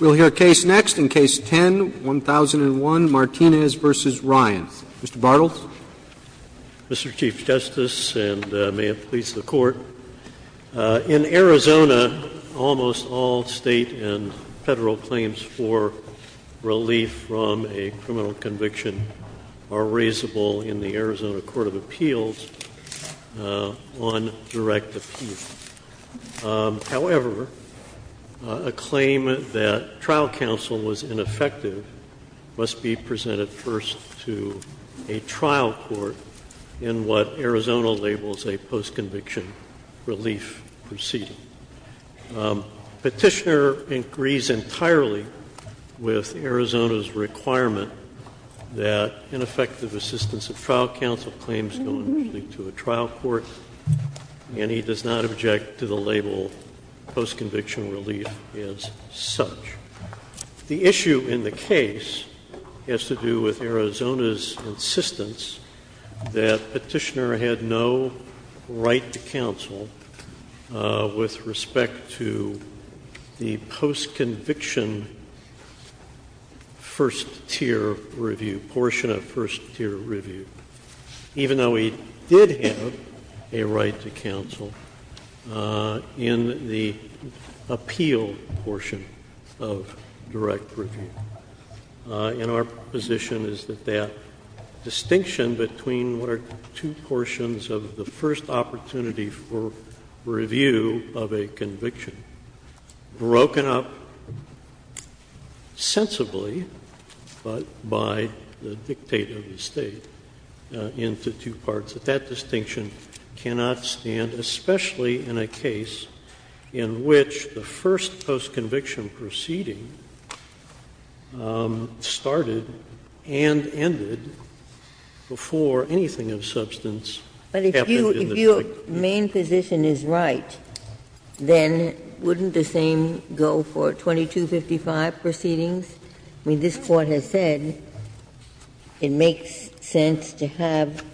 We'll hear case next in Case 10-1001, Martinez v. Ryan. Mr. Bartels. Mr. Chief Justice, and may it please the Court, in Arizona, almost all State and Federal claims for relief from a criminal conviction are raisable in the Arizona Court of Appeals on direct appeal. However, a claim that trial counsel was ineffective must be presented first to a trial court in what Arizona labels a post-conviction relief proceeding. Petitioner agrees entirely with Arizona's requirement that ineffective assistance of trial counsel claims go initially to a trial court, and he does not object to the label post-conviction relief as such. The issue in the case has to do with Arizona's insistence that Petitioner had no right to counsel with respect to the post-conviction first-tier review, portion of first-tier review, even though he did have a right to counsel in the appeal portion of direct review. And our position is that that distinction between what are two portions of the first opportunity for review of a conviction, broken up sensibly, but by the dictate of the State, into two parts, that that distinction cannot stand, especially in a case in which the first post-conviction proceeding started and ended before anything of substance happened in the State. Ginsburg. But if your main position is right, then wouldn't the same go for 2255 proceedings? I mean, this Court has said it makes sense to have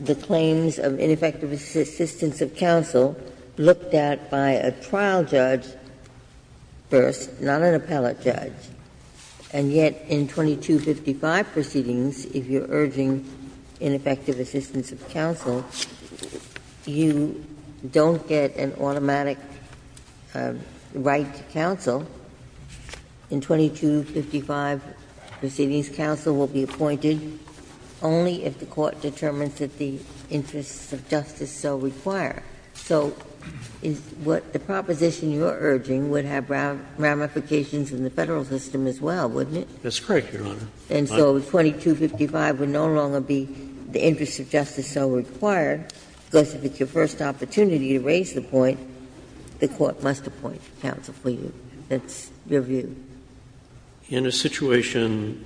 the claims of ineffective assistance of counsel looked at by a trial judge first, not an appellate judge. And yet in 2255 proceedings, if you're urging ineffective assistance of counsel, you don't get an automatic right to counsel. In 2255 proceedings, counsel will be appointed only if the Court determines that the interests of justice so require. So what the proposition you're urging would have ramifications in the Federal system as well, wouldn't it? That's correct, Your Honor. And so 2255 would no longer be the interests of justice so required, because if it's your first opportunity to raise the point, the Court must appoint counsel for you. That's your view. In a situation,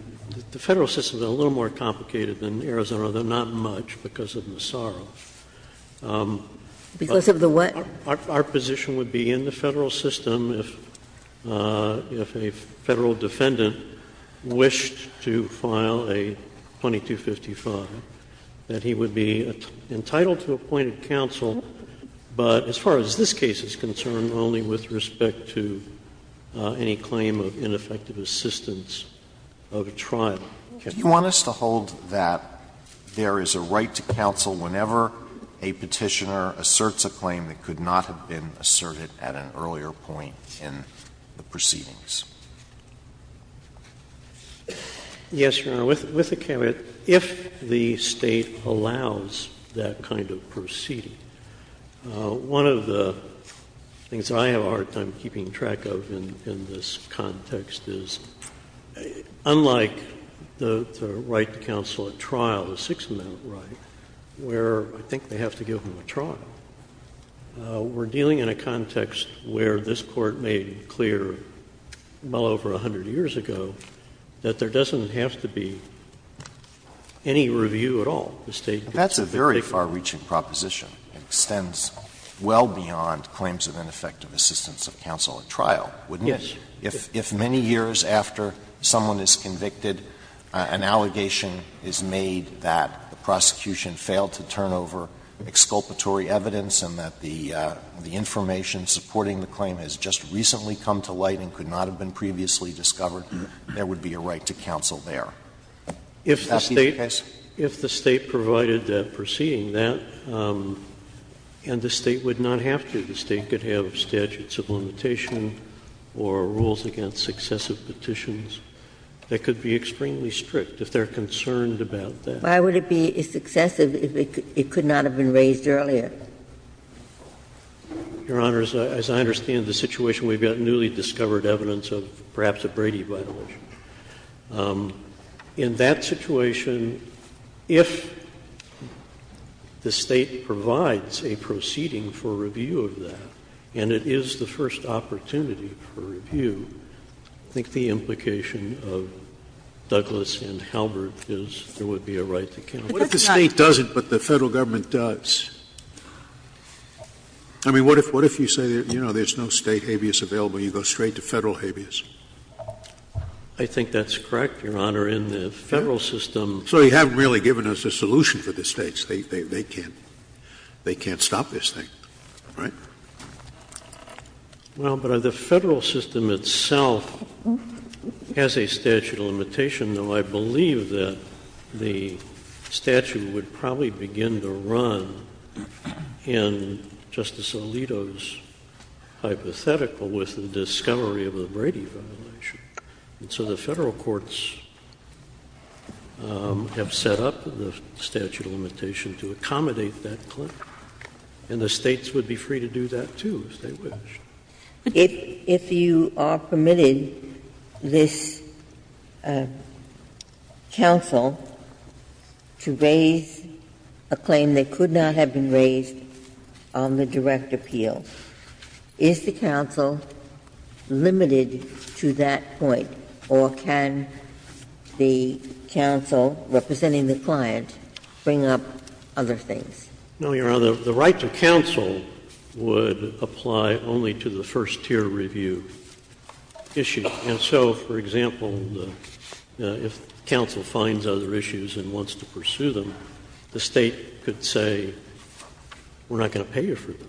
the Federal system is a little more complicated than Arizona, though not much, because of the sorrow. Because of the what? Our position would be in the Federal system, if a Federal defendant wished to file a 2255, that he would be entitled to appointed counsel, but as far as this case is concerned, only with respect to any claim of ineffective assistance of a trial. Do you want us to hold that there is a right to counsel whenever a Petitioner asserts a claim that could not have been asserted at an earlier point in the proceedings? Yes, Your Honor. With the caveat, if the State allows that kind of proceeding, one of the things I have a hard time keeping track of in this context is, unlike the right to counsel at trial, the Sixth Amendment right, where I think they have to give him a trial, we're dealing in a context where this Court made clear well over a hundred years ago that there doesn't have to be any review at all. The State could submit a Petitioner. That's a very far-reaching proposition. It extends well beyond claims of ineffective assistance of counsel at trial, wouldn't it? Yes. If many years after someone is convicted, an allegation is made that the prosecution failed to turn over exculpatory evidence and that the information supporting the claim has just recently come to light and could not have been previously discovered, there would be a right to counsel there. Would that be the case? If the State provided that proceeding, that, and the State would not have to. The State could have statutes of limitation or rules against successive petitions. That could be extremely strict if they're concerned about that. Why would it be successive if it could not have been raised earlier? Your Honor, as I understand the situation, we've got newly discovered evidence of perhaps a Brady violation. In that situation, if the State provides a proceeding for review of that, and it is the first opportunity for review, I think the implication of Douglas and Halbert is there would be a right to counsel. What if the State doesn't, but the Federal Government does? I mean, what if you say, you know, there's no State habeas available, you go straight to Federal habeas? I think that's correct, Your Honor. In the Federal system — So you haven't really given us a solution for the States. They can't — they can't stop this thing, right? Well, but the Federal system itself has a statute of limitation, though I believe that the statute would probably begin to run in Justice Alito's hypothetical with the discovery of the Brady violation. And so the Federal courts have set up the statute of limitation to accommodate that claim. And the States would be free to do that, too, if they wish. If you are permitted this counsel to raise a claim that could not have been raised on the direct appeal, is the counsel limited to that point, or can the counsel representing the client bring up other things? No, Your Honor. The right to counsel would apply only to the first-tier review issue. And so, for example, if counsel finds other issues and wants to pursue them, the State could say, we're not going to pay you for those.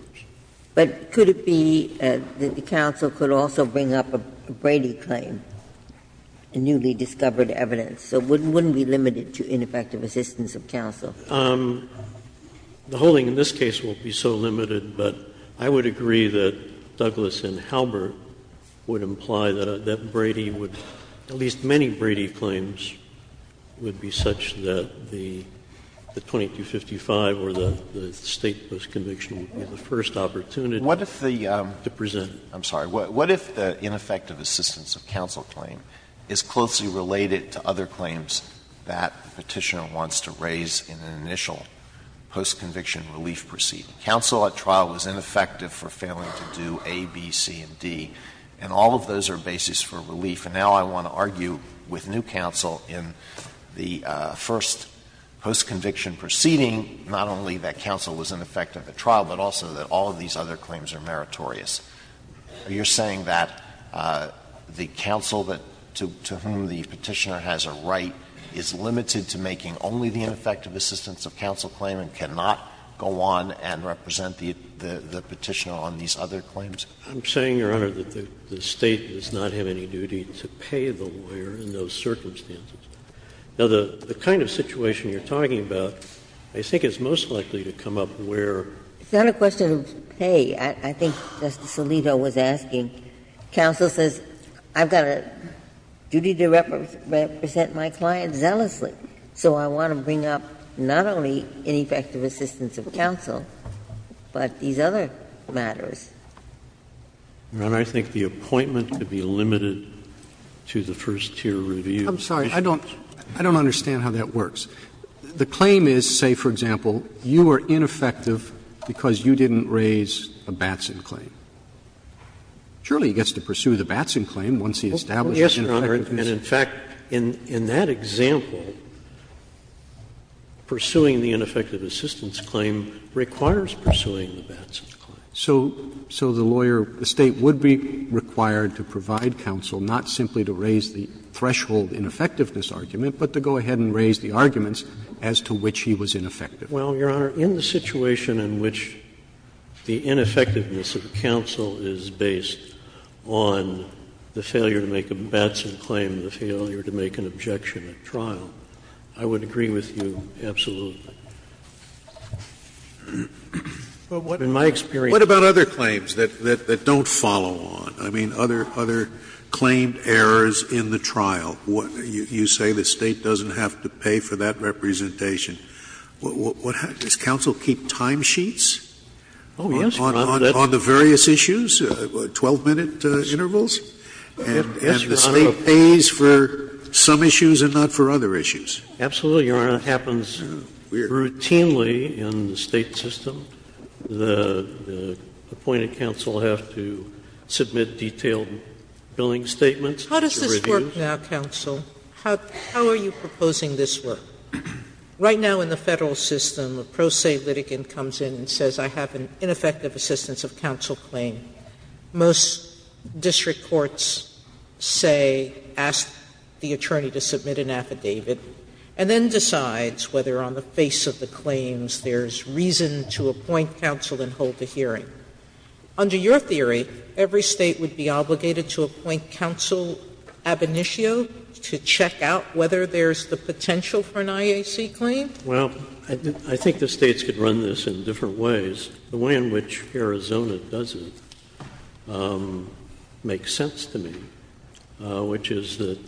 But could it be that the counsel could also bring up a Brady claim, a newly discovered evidence? So wouldn't we limit it to ineffective assistance of counsel? The holding in this case won't be so limited, but I would agree that Douglas and Halbert would imply that Brady would — at least many Brady claims would be such that the 2255 or the State postconviction would be the first opportunity to present. Alito, I'm sorry. What if the ineffective assistance of counsel claim is closely related to other claims that the Petitioner wants to raise in an initial postconviction relief proceeding? Counsel at trial was ineffective for failing to do A, B, C, and D, and all of those are bases for relief. And now I want to argue with new counsel in the first postconviction proceeding not only that counsel was ineffective at trial, but also that all of these other claims are meritorious. Are you saying that the counsel that — to whom the Petitioner has a right is limited to making only the ineffective assistance of counsel claim and cannot go on and represent the Petitioner on these other claims? I'm saying, Your Honor, that the State does not have any duty to pay the lawyer in those circumstances. Now, the kind of situation you're talking about, I think it's most likely to come up where — It's not a question of pay. I think Justice Alito was asking. Counsel says I've got a duty to represent my client zealously, so I want to bring up not only ineffective assistance of counsel, but these other matters. Your Honor, I think the appointment could be limited to the first-tier review. I'm sorry, I don't — I don't understand how that works. The claim is, say, for example, you were ineffective because you didn't raise a Batson claim. Surely he gets to pursue the Batson claim once he establishes an ineffectiveness. Yes, Your Honor, and in fact, in that example, pursuing the ineffective assistance claim requires pursuing the Batson claim. So the lawyer — the State would be required to provide counsel not simply to raise the threshold ineffectiveness argument, but to go ahead and raise the arguments as to which he was ineffective. Well, Your Honor, in the situation in which the ineffectiveness of counsel is based on the failure to make a Batson claim, the failure to make an objection at trial, I would agree with you absolutely. In my experience. Scalia, what about other claims that don't follow on, I mean, other claimed errors in the trial? You say the State doesn't have to pay for that representation. Does counsel keep timesheets on the various issues, 12-minute intervals? And the State pays for some issues and not for other issues? Absolutely, Your Honor, it happens. Routinely in the State system, the appointed counsel have to submit detailed billing statements. How does this work now, counsel? How are you proposing this work? Right now in the Federal system, a pro se litigant comes in and says, I have an ineffective assistance of counsel claim. Most district courts say, ask the attorney to submit an affidavit, and then decides whether on the face of the claims there is reason to appoint counsel and hold the hearing. Under your theory, every State would be obligated to appoint counsel ab initio to check out whether there is the potential for an IAC claim? Well, I think the States could run this in different ways. The way in which Arizona does it makes sense to me, which is that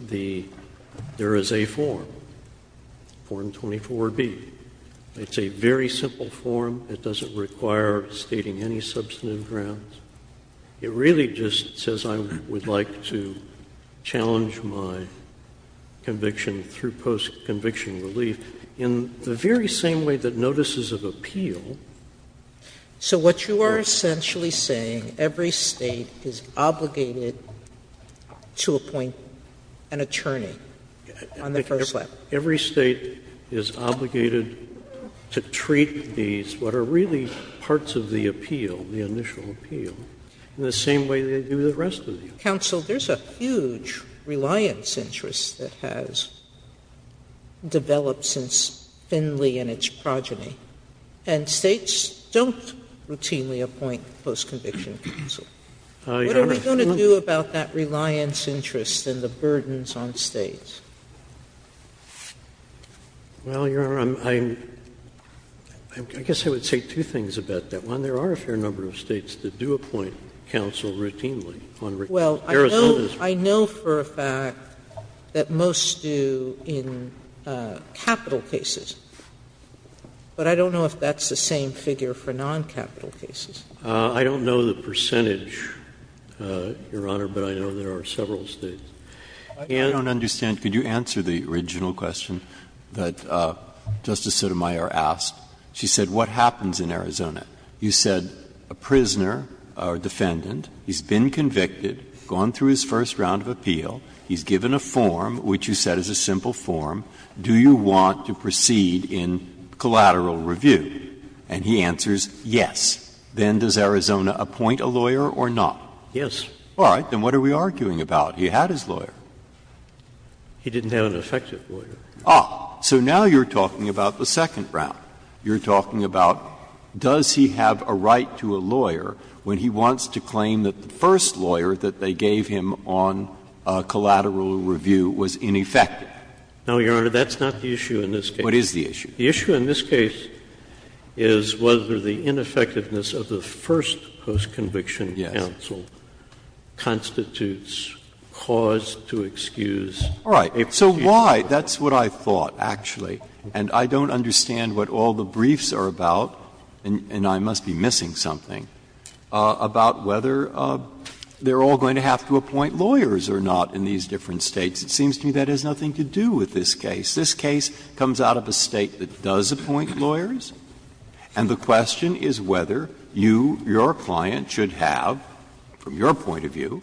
the — there is a form. Form 24B. It's a very simple form. It doesn't require stating any substantive grounds. It really just says I would like to challenge my conviction through post-conviction relief. In the very same way that notices of appeal. So what you are essentially saying, every State is obligated to appoint an attorney on the first level? Every State is obligated to treat these, what are really parts of the appeal, the initial appeal, in the same way they do the rest of the appeal. Counsel, there is a huge reliance interest that has developed since Finley and its progeny, and States don't routinely appoint post-conviction counsel. Your Honor, I'm not going to do about that reliance interest and the burdens on States. Well, Your Honor, I guess I would say two things about that. One, there are a fair number of States that do appoint counsel routinely. Well, I know for a fact that most do in capital cases, but I don't know if that's the same figure for non-capital cases. I don't know the percentage, Your Honor, but I know there are several States. Breyer, I don't understand. Could you answer the original question that Justice Sotomayor asked? She said, what happens in Arizona? You said a prisoner or defendant, he's been convicted, gone through his first round of appeal, he's given a form, which you said is a simple form, do you want to proceed in collateral review? And he answers, yes. Then does Arizona appoint a lawyer or not? Yes. All right. Then what are we arguing about? He had his lawyer. He didn't have an effective lawyer. Ah. So now you're talking about the second round. You're talking about does he have a right to a lawyer when he wants to claim that the first lawyer that they gave him on collateral review was ineffective? No, Your Honor, that's not the issue in this case. What is the issue? The issue in this case is whether the ineffectiveness of the first postconviction counsel constitutes cause to excuse. All right. So why? That's what I thought, actually. And I don't understand what all the briefs are about, and I must be missing something, about whether they're all going to have to appoint lawyers or not in these different States. It seems to me that has nothing to do with this case. This case comes out of a State that does appoint lawyers, and the question is whether you, your client, should have, from your point of view,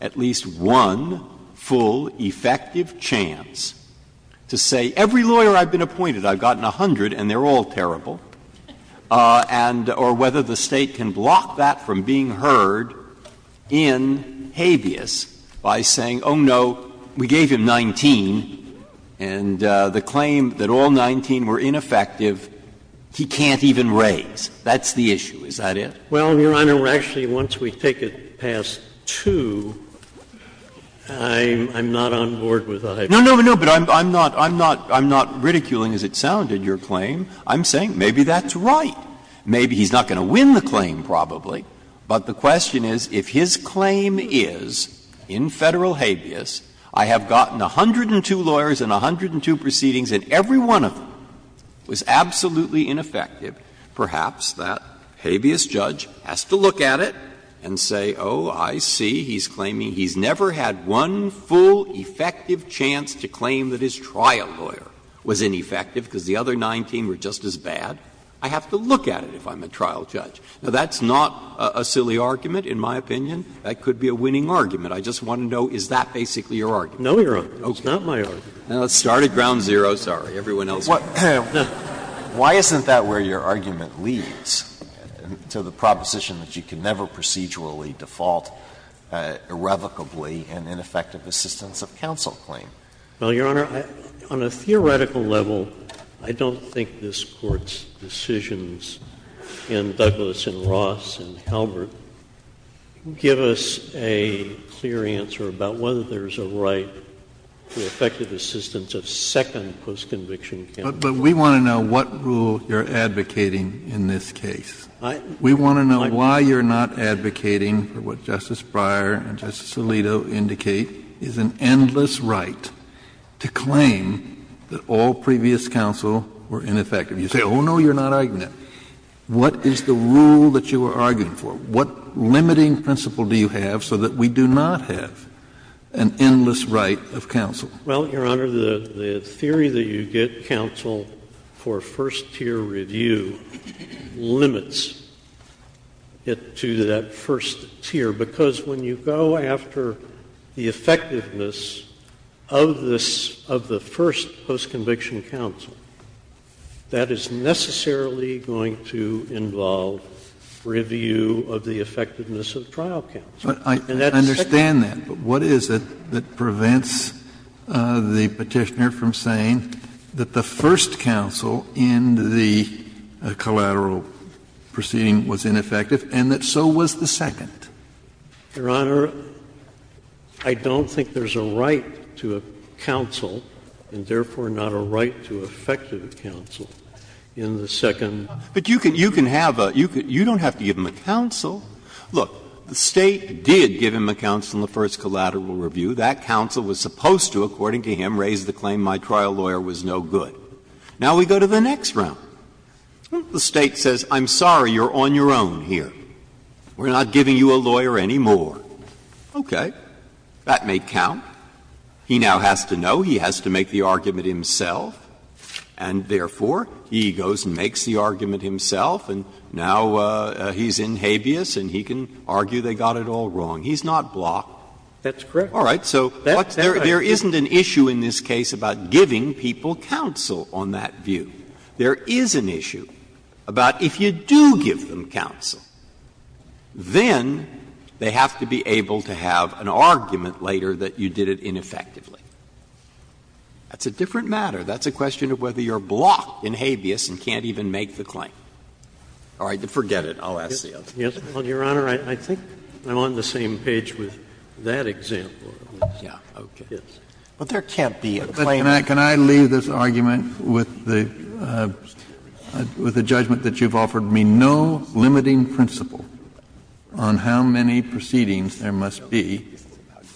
at least one full effective chance to say, every lawyer I've been appointed, I've gotten 100 and they're all terrible, and or whether the State can block that from being heard in habeas by saying, oh, no, we gave him 19, and the claim that all 19 were ineffective, he can't even raise. That's the issue. Is that it? Well, Your Honor, actually, once we take it past 2, I'm not on board with that. No, no, but I'm not ridiculing, as it sounded, your claim. I'm saying maybe that's right. Maybe he's not going to win the claim, probably, but the question is, if his claim is, in Federal habeas, I have gotten 102 lawyers and 102 proceedings, and every one of them was absolutely ineffective, perhaps that habeas judge has to look at it and say, oh, I see, he's claiming he's never had one full effective chance to claim that his trial lawyer was ineffective because the other 19 were just as bad. I have to look at it if I'm a trial judge. Now, that's not a silly argument, in my opinion. That could be a winning argument. I just want to know, is that basically your argument? No, Your Honor, that's not my argument. Now, let's start at ground zero. Sorry. Everyone else wants to start. Why isn't that where your argument leads, to the proposition that you can never procedurally default irrevocably in ineffective assistance of counsel claim? Well, Your Honor, on a theoretical level, I don't think this Court's decisions in Douglas and Ross and Halbert give us a clear answer about whether there's a right to effective assistance of second postconviction counsel. But we want to know what rule you're advocating in this case. We want to know why you're not advocating for what Justice Breyer and Justice Alito indicate is an endless right to claim that all previous counsel were ineffective. You say, oh, no, you're not arguing that. What is the rule that you are arguing for? What limiting principle do you have so that we do not have an endless right of counsel? Well, Your Honor, the theory that you get counsel for first-tier review limits it to that first tier, because when you go after the effectiveness of this — of the first postconviction counsel, that is necessarily going to involve review of the effectiveness of trial counsel. And that's the second. But I understand that, but what is it that prevents the Petitioner from saying that the first counsel in the collateral proceeding was ineffective and that so was the second? Your Honor, I don't think there's a right to counsel, and therefore not a right to effective counsel, in the second. Breyer, but you can have a — you don't have to give him a counsel. Look, the State did give him a counsel in the first collateral review. That counsel was supposed to, according to him, raise the claim my trial lawyer was no good. Now we go to the next round. The State says, I'm sorry, you're on your own here. We're not giving you a lawyer anymore. Okay. That may count. He now has to know. He has to make the argument himself. And therefore, he goes and makes the argument himself, and now he's in habeas and he can argue they got it all wrong. He's not blocked. That's correct. All right. So there isn't an issue in this case about giving people counsel on that view. There is an issue about if you do give them counsel, then they have to be able to have an argument later that you did it ineffectively. That's a different matter. That's a question of whether you're blocked in habeas and can't even make the claim. All right. Forget it. I'll ask the other. Yes. Well, Your Honor, I think I'm on the same page with that example. Yeah. Okay. Yes. But there can't be a claimant. Can I leave this argument with the judgment that you've offered me no limiting principle on how many proceedings there must be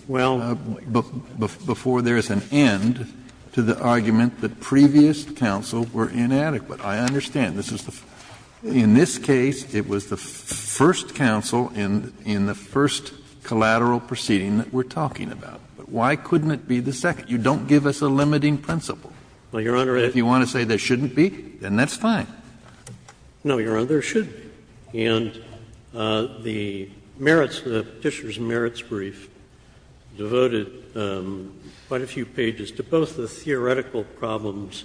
before there is an end to the argument that previous counsel were inadequate? I understand. In this case, it was the first counsel in the first collateral proceeding that we're talking about. But why couldn't it be the second? You don't give us a limiting principle. Well, Your Honor, it's If you want to say there shouldn't be, then that's fine. No, Your Honor, there should be. And the merits, the Petitioner's merits brief devoted quite a few pages to both the theoretical problems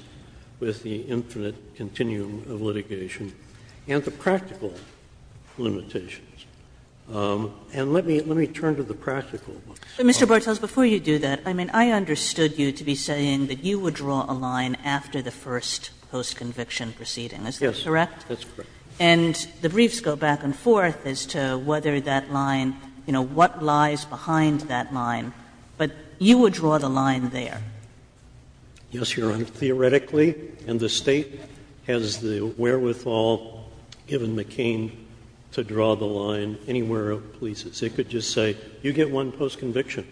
with the infinite continuum of litigation and the practical limitations. And let me turn to the practical ones. Mr. Bartels, before you do that, I mean, I understood you to be saying that you would draw a line after the first post-conviction proceeding, is that correct? Yes, that's correct. And the briefs go back and forth as to whether that line, you know, what lies behind that line. But you would draw the line there. Yes, Your Honor. Theoretically, and the State has the wherewithal, given McCain, to draw the line anywhere it pleases. It could just say, you get one post-conviction.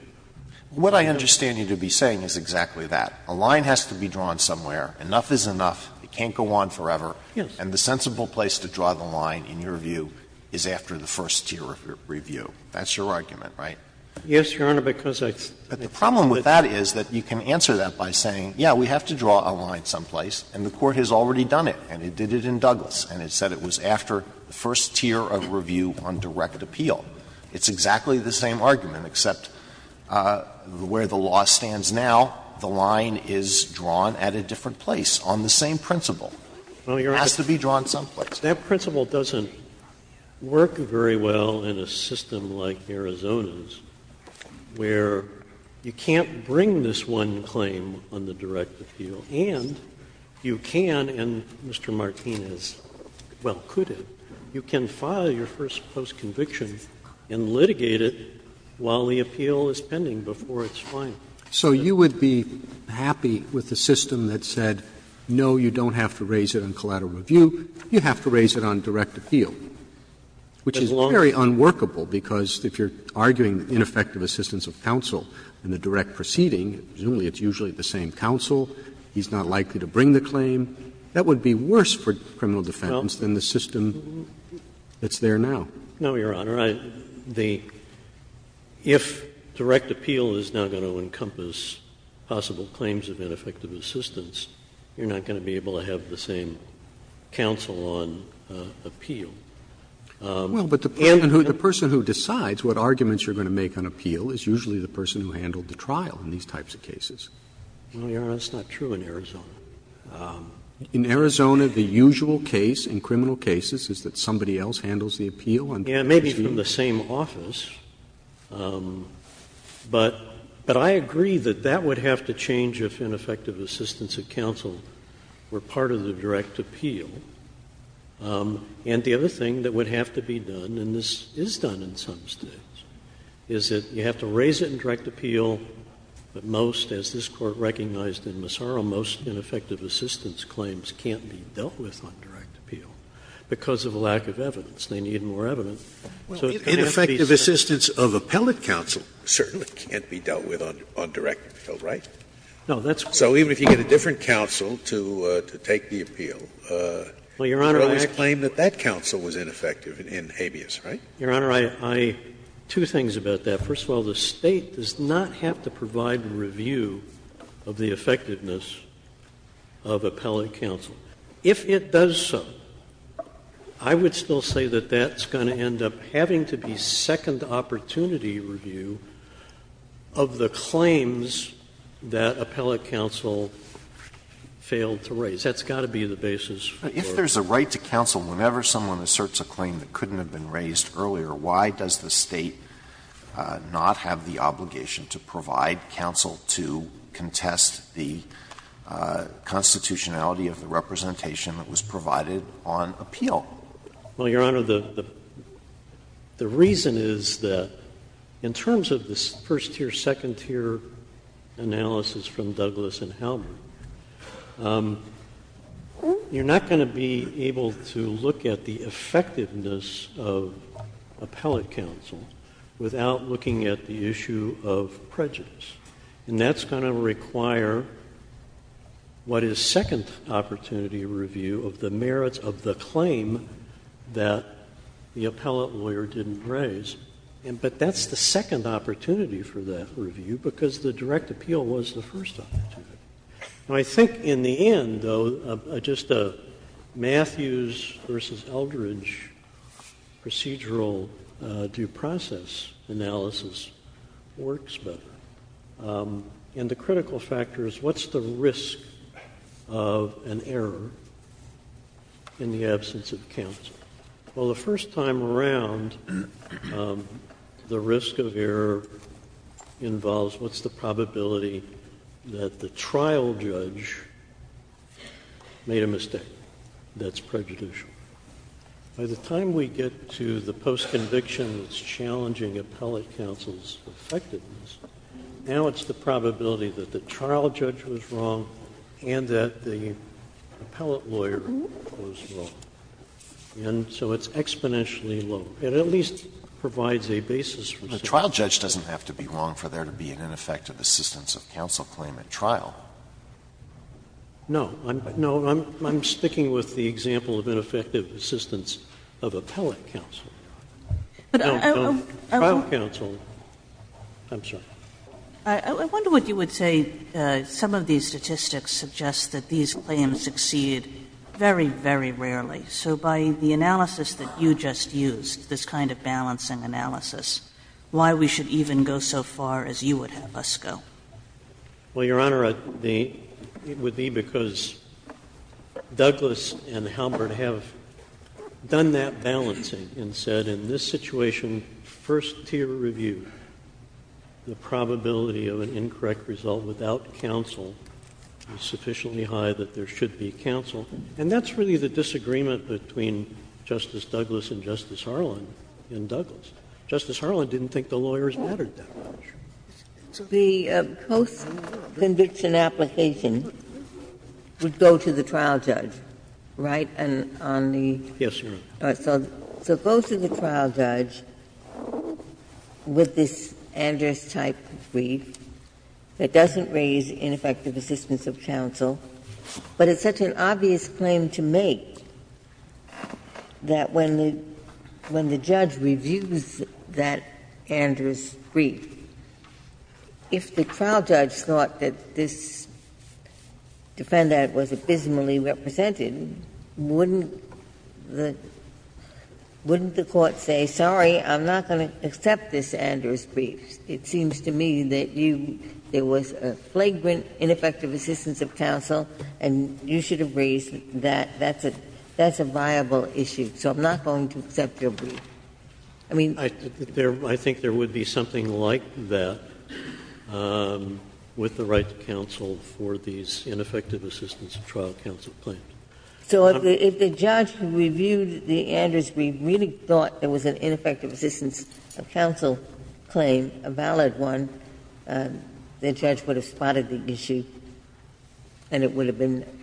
What I understand you to be saying is exactly that. A line has to be drawn somewhere, enough is enough, it can't go on forever. Yes. And the sensible place to draw the line, in your view, is after the first tier of review. That's your argument, right? Yes, Your Honor, because I But the problem with that is that you can answer that by saying, yes, we have to draw a line someplace, and the Court has already done it, and it did it in Douglas, and it said it was after the first tier of review on direct appeal. It's exactly the same argument, except where the law stands now, the line is drawn at a different place on the same principle. It has to be drawn someplace. That principle doesn't work very well in a system like Arizona's, where you can't bring this one claim on the direct appeal, and you can, and Mr. Martinez, well, you can file your first post-conviction and litigate it while the appeal is pending before it's final. So you would be happy with a system that said, no, you don't have to raise it on collateral review, you have to raise it on direct appeal, which is very unworkable, because if you're arguing ineffective assistance of counsel in the direct proceeding, presumably it's usually the same counsel, he's not likely to bring the claim, that would be worse for criminal defense than the system that's there now. No, Your Honor. The – if direct appeal is not going to encompass possible claims of ineffective assistance, you're not going to be able to have the same counsel on appeal. Well, but the person who decides what arguments you're going to make on appeal is usually the person who handled the trial in these types of cases. No, Your Honor, that's not true in Arizona. In Arizona, the usual case in criminal cases is that somebody else handles the appeal on direct appeal. Yeah, maybe from the same office, but I agree that that would have to change if ineffective assistance of counsel were part of the direct appeal. And the other thing that would have to be done, and this is done in some States, is that you have to raise it in direct appeal, but most, as this Court recognized in Massaro, most ineffective assistance claims can't be dealt with on direct appeal because of a lack of evidence. They need more evidence, so it's going to have to be set up. Ineffective assistance of appellate counsel certainly can't be dealt with on direct appeal, right? No, that's what I'm saying. So even if you get a different counsel to take the appeal, you could always claim that that counsel was ineffective in habeas, right? Your Honor, I – two things about that. First of all, the State does not have to provide a review of the effectiveness of appellate counsel. If it does so, I would still say that that's going to end up having to be second opportunity review of the claims that appellate counsel failed to raise. That's got to be the basis for it. If there's a right to counsel whenever someone asserts a claim that couldn't have been raised earlier, why does the State not have the obligation to provide counsel to contest the constitutionality of the representation that was provided on appeal? Well, Your Honor, the reason is that in terms of this first-tier, second-tier analysis from Douglas and Halberd, you're not going to be able to look at the effectiveness of appellate counsel without looking at the issue of prejudice. And that's going to require what is second opportunity review of the merits of the claim that the appellate lawyer didn't raise. But that's the second opportunity for that review because the direct appeal was the first opportunity. I think in the end, though, just a Matthews versus Eldridge procedural due process analysis works better. And the critical factor is what's the risk of an error in the absence of counsel? Well, the first time around, the risk of error involves what's the probability that the trial judge made a mistake that's prejudicial? By the time we get to the postconviction that's challenging appellate counsel's effectiveness, now it's the probability that the trial judge was wrong and that the appellate lawyer was wrong. And so it's exponentially low. It at least provides a basis for safety. The trial judge doesn't have to be wrong for there to be an ineffective assistance of counsel claim at trial. No. No. I'm sticking with the example of ineffective assistance of appellate counsel. No. No. Trial counsel. I'm sorry. Kagan. Kagan. I wonder what you would say some of these statistics suggest that these claims exceed very, very rarely. So by the analysis that you just used, this kind of balancing analysis, why we should even go so far as you would have us go? Well, Your Honor, it would be because Douglas and Halbert have done that balancing and said in this situation, first-tier review, the probability of an incorrect result without counsel is sufficiently high that there should be counsel. And that's really the disagreement between Justice Douglas and Justice Harlan in Douglas. Justice Harlan didn't think the lawyers mattered that much. The post-conviction application would go to the trial judge, right? Yes, Your Honor. So it goes to the trial judge with this Andrews-type brief that doesn't raise ineffective assistance of counsel, but it's such an obvious claim to make that when the judge reviews that Andrews brief, if the trial judge thought that this defendant was abysmally represented, wouldn't the Court say, sorry, I'm not going to accept this Andrews brief? It seems to me that you – there was a flagrant ineffective assistance of counsel and you should have raised that. That's a viable issue. So I'm not going to accept your brief. I mean – I think there would be something like that with the right to counsel for these ineffective assistance of trial counsel claims. So if the judge reviewed the Andrews brief, really thought there was an ineffective assistance of counsel claim, a valid one, the judge would have spotted the issue and it would have been –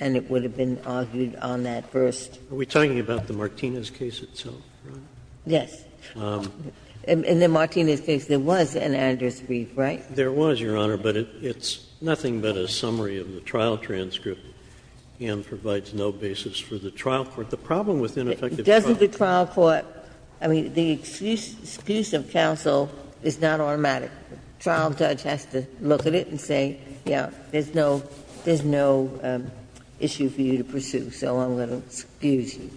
and it would have been argued on that first. Are we talking about the Martinez case itself? Yes. In the Martinez case, there was an Andrews brief, right? There was, Your Honor, but it's nothing but a summary of the trial transcript and provides no basis for the trial court. The problem with ineffective – Doesn't the trial court – I mean, the excuse of counsel is not automatic. The trial judge has to look at it and say, yes, there's no issue for you to pursue, so I'm going to excuse you.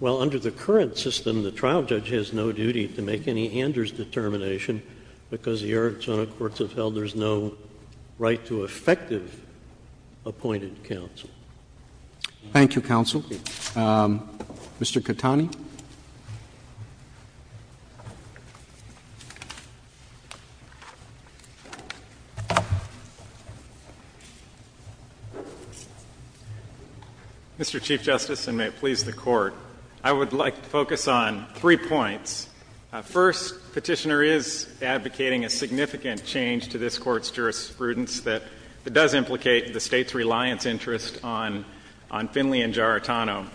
Well, under the current system, the trial judge has no duty to make any Andrews determination because the Arizona courts have held there's no right to effective appointed counsel. Thank you, counsel. Mr. Catani. Mr. Chief Justice, and may it please the Court, I would like to focus on three points. First, Petitioner is advocating a significant change to this Court's jurisprudence that does implicate the State's reliance interest on Finley and Giarratano.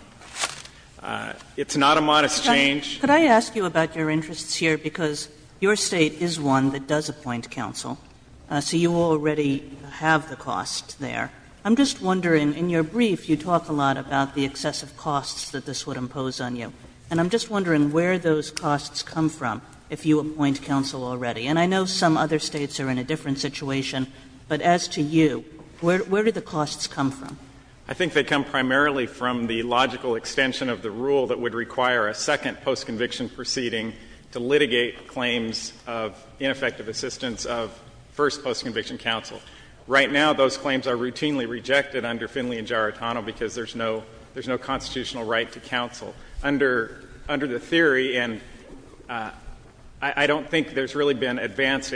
It's not a modest change. Could I ask you about your interests here? Because your State is one that does appoint counsel, so you already have the cost there. I'm just wondering, in your brief you talk a lot about the excessive costs that this would impose on you. And I'm just wondering where those costs come from if you appoint counsel already. And I know some other States are in a different situation, but as to you, where do the costs come from? I think they come primarily from the logical extension of the rule that would require a second postconviction proceeding to litigate claims of ineffective assistance of first postconviction counsel. Right now, those claims are routinely rejected under Finley and Giarratano because there's no constitutional right to counsel. Under the theory, and I don't think there's really been advanced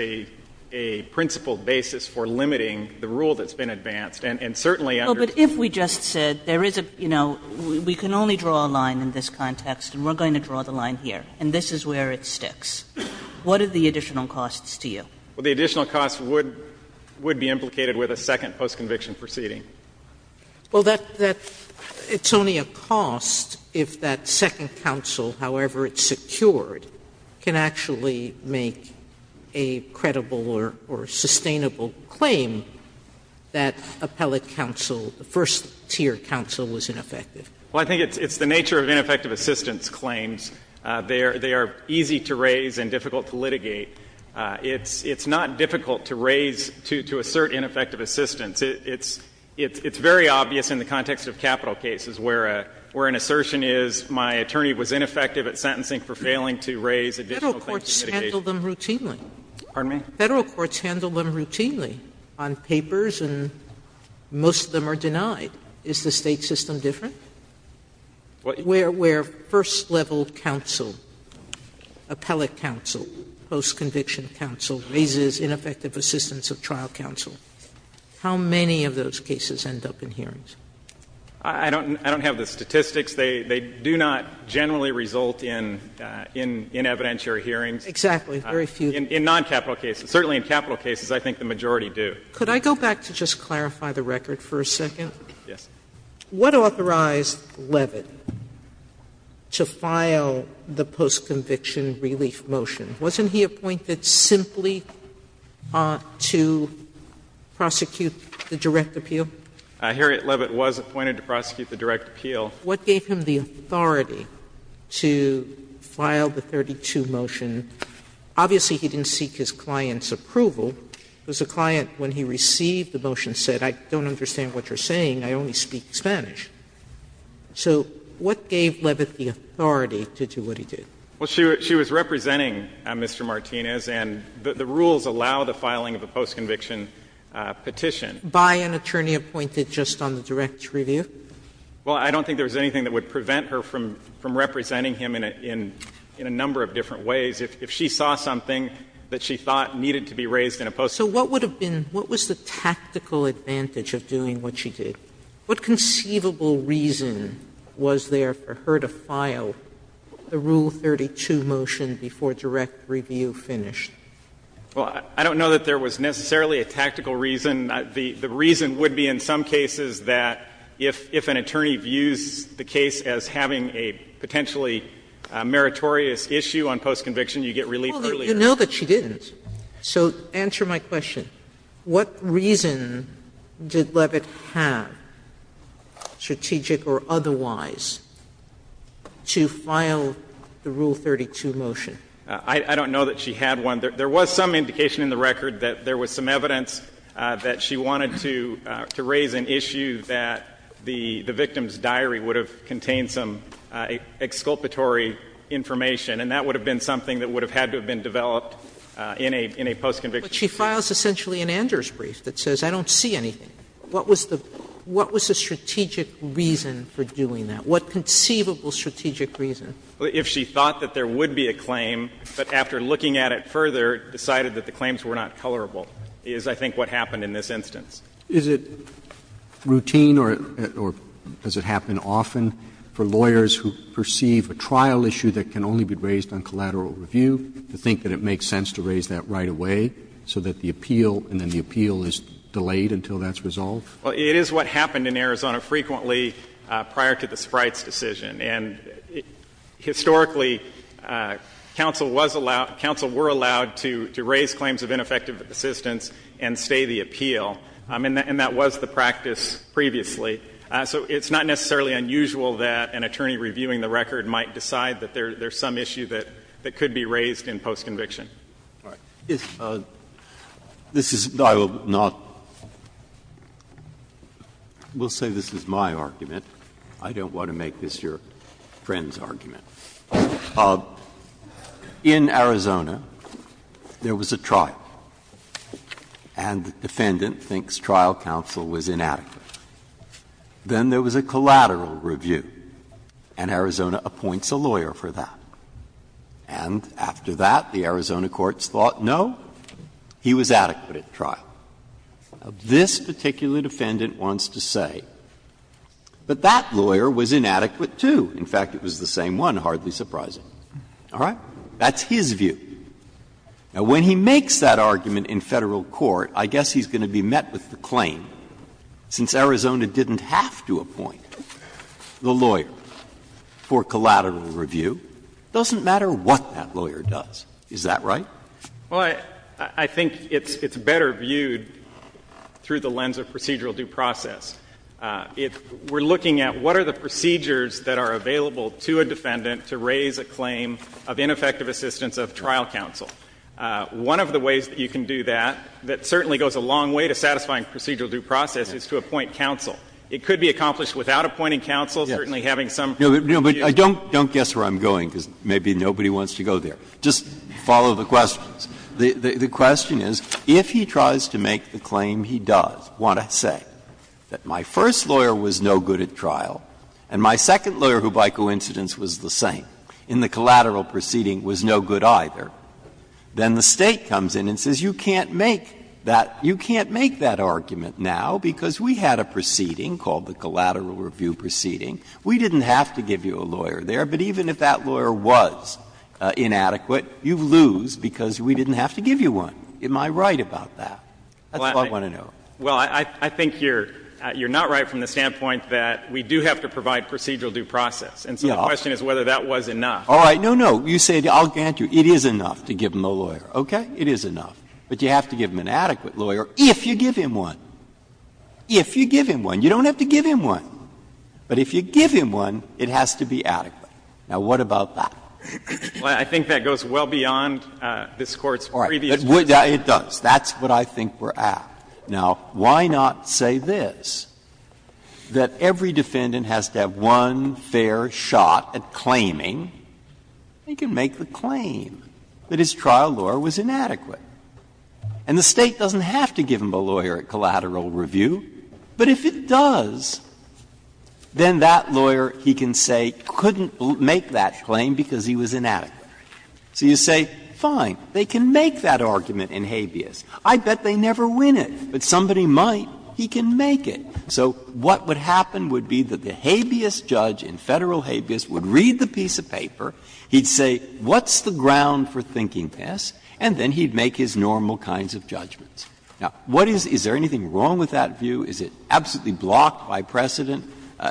a principled basis for limiting the rule that's been advanced, and certainly under the theory that's been advanced. Well, but if we just said there is a, you know, we can only draw a line in this context, and we're going to draw the line here, and this is where it sticks, what are the additional costs to you? Well, the additional costs would be implicated with a second postconviction proceeding. Well, that's only a cost if that second counsel, however it's secured, can actually make a credible or sustainable claim that appellate counsel, the first tier counsel was ineffective. Well, I think it's the nature of ineffective assistance claims. They are easy to raise and difficult to litigate. It's not difficult to raise, to assert ineffective assistance. It's very obvious in the context of capital cases where an assertion is my attorney was ineffective at sentencing for failing to raise additional things to litigate. Sotomayor, Federal courts handle them routinely. Pardon me? Federal courts handle them routinely on papers, and most of them are denied. Is the State system different? Where first level counsel, appellate counsel, postconviction. First level counsel raises ineffective assistance of trial counsel. How many of those cases end up in hearings? I don't have the statistics. They do not generally result in evidentiary hearings. Exactly. Very few. In noncapital cases. Certainly in capital cases, I think the majority do. Could I go back to just clarify the record for a second? Yes. What authorized Leavitt to file the postconviction relief motion? Wasn't he appointed simply to prosecute the direct appeal? Harriet Leavitt was appointed to prosecute the direct appeal. What gave him the authority to file the 32 motion? Obviously, he didn't seek his client's approval, because the client, when he received the motion, said, I don't understand what you're saying. I only speak Spanish. So what gave Leavitt the authority to do what he did? Well, she was representing Mr. Martinez, and the rules allow the filing of a postconviction petition. By an attorney appointed just on the direct review? Well, I don't think there was anything that would prevent her from representing him in a number of different ways. If she saw something that she thought needed to be raised in a postconviction case. So what would have been the tactical advantage of doing what she did? What conceivable reason was there for her to file the Rule 32 motion before direct review finished? Well, I don't know that there was necessarily a tactical reason. The reason would be in some cases that if an attorney views the case as having a potentially meritorious issue on postconviction, you get relief earlier. Well, you know that she didn't. So answer my question. What reason did Leavitt have, strategic or otherwise, to file the Rule 32 motion? I don't know that she had one. There was some indication in the record that there was some evidence that she wanted to raise an issue that the victim's diary would have contained some exculpatory information, and that would have been something that would have had to have been developed in a postconviction case. But she files essentially an Anders brief that says, I don't see anything. What was the strategic reason for doing that? What conceivable strategic reason? If she thought that there would be a claim, but after looking at it further, decided that the claims were not colorable, is I think what happened in this instance. Is it routine or does it happen often for lawyers who perceive a trial issue that can only be raised on collateral review to think that it makes sense to raise that right away so that the appeal and then the appeal is delayed until that's resolved? Well, it is what happened in Arizona frequently prior to the Sprites decision. And historically, counsel was allowed, counsel were allowed to raise claims of ineffective assistance and stay the appeal. And that was the practice previously. So it's not necessarily unusual that an attorney reviewing the record might decide that there's some issue that could be raised in postconviction. All right. Breyer. This is not my argument. I don't want to make this your friend's argument. In Arizona, there was a trial, and the defendant thinks trial counsel was inadequate. Then there was a collateral review, and Arizona appoints a lawyer for that. And after that, the Arizona courts thought, no, he was adequate at trial. This particular defendant wants to say, but that lawyer was inadequate, too. In fact, it was the same one, hardly surprising. All right. That's his view. Now, when he makes that argument in Federal court, I guess he's going to be met with a claim. Since Arizona didn't have to appoint the lawyer for collateral review, it doesn't matter what that lawyer does. Is that right? Well, I think it's better viewed through the lens of procedural due process. If we're looking at what are the procedures that are available to a defendant to raise a claim of ineffective assistance of trial counsel, one of the ways that you can do that, that certainly goes a long way to satisfying procedural due process, is to appoint counsel. It could be accomplished without appointing counsel, certainly having some. No, but I don't guess where I'm going, because maybe nobody wants to go there. Just follow the questions. The question is, if he tries to make the claim he does want to say that my first lawyer was no good at trial, and my second lawyer, who by coincidence was the same in the collateral proceeding, was no good either, then the State comes in and says, you can't make that argument now because we had a proceeding called the collateral review proceeding. We didn't have to give you a lawyer there, but even if that lawyer was inadequate, you lose because we didn't have to give you one. Am I right about that? That's what I want to know. Well, I think you're not right from the standpoint that we do have to provide procedural due process. And so the question is whether that was enough. All right. No, no. You say, I'll grant you. It is enough to give him a lawyer. Okay? It is enough. But you have to give him an adequate lawyer if you give him one. If you give him one. You don't have to give him one. But if you give him one, it has to be adequate. Now, what about that? Well, I think that goes well beyond this Court's previous position. All right. It does. That's what I think we're at. Now, why not say this, that every defendant has to have one fair shot at claiming that his trial lawyer was inadequate. And the State doesn't have to give him a lawyer at collateral review, but if it does, then that lawyer, he can say, couldn't make that claim because he was inadequate. So you say, fine, they can make that argument in habeas. I bet they never win it. But somebody might. He can make it. So what would happen would be that the habeas judge in Federal habeas would read the piece of paper, he'd say, what's the ground for thinking this, and then he'd make his normal kinds of judgments. Now, what is — is there anything wrong with that view? Is it absolutely blocked by precedent?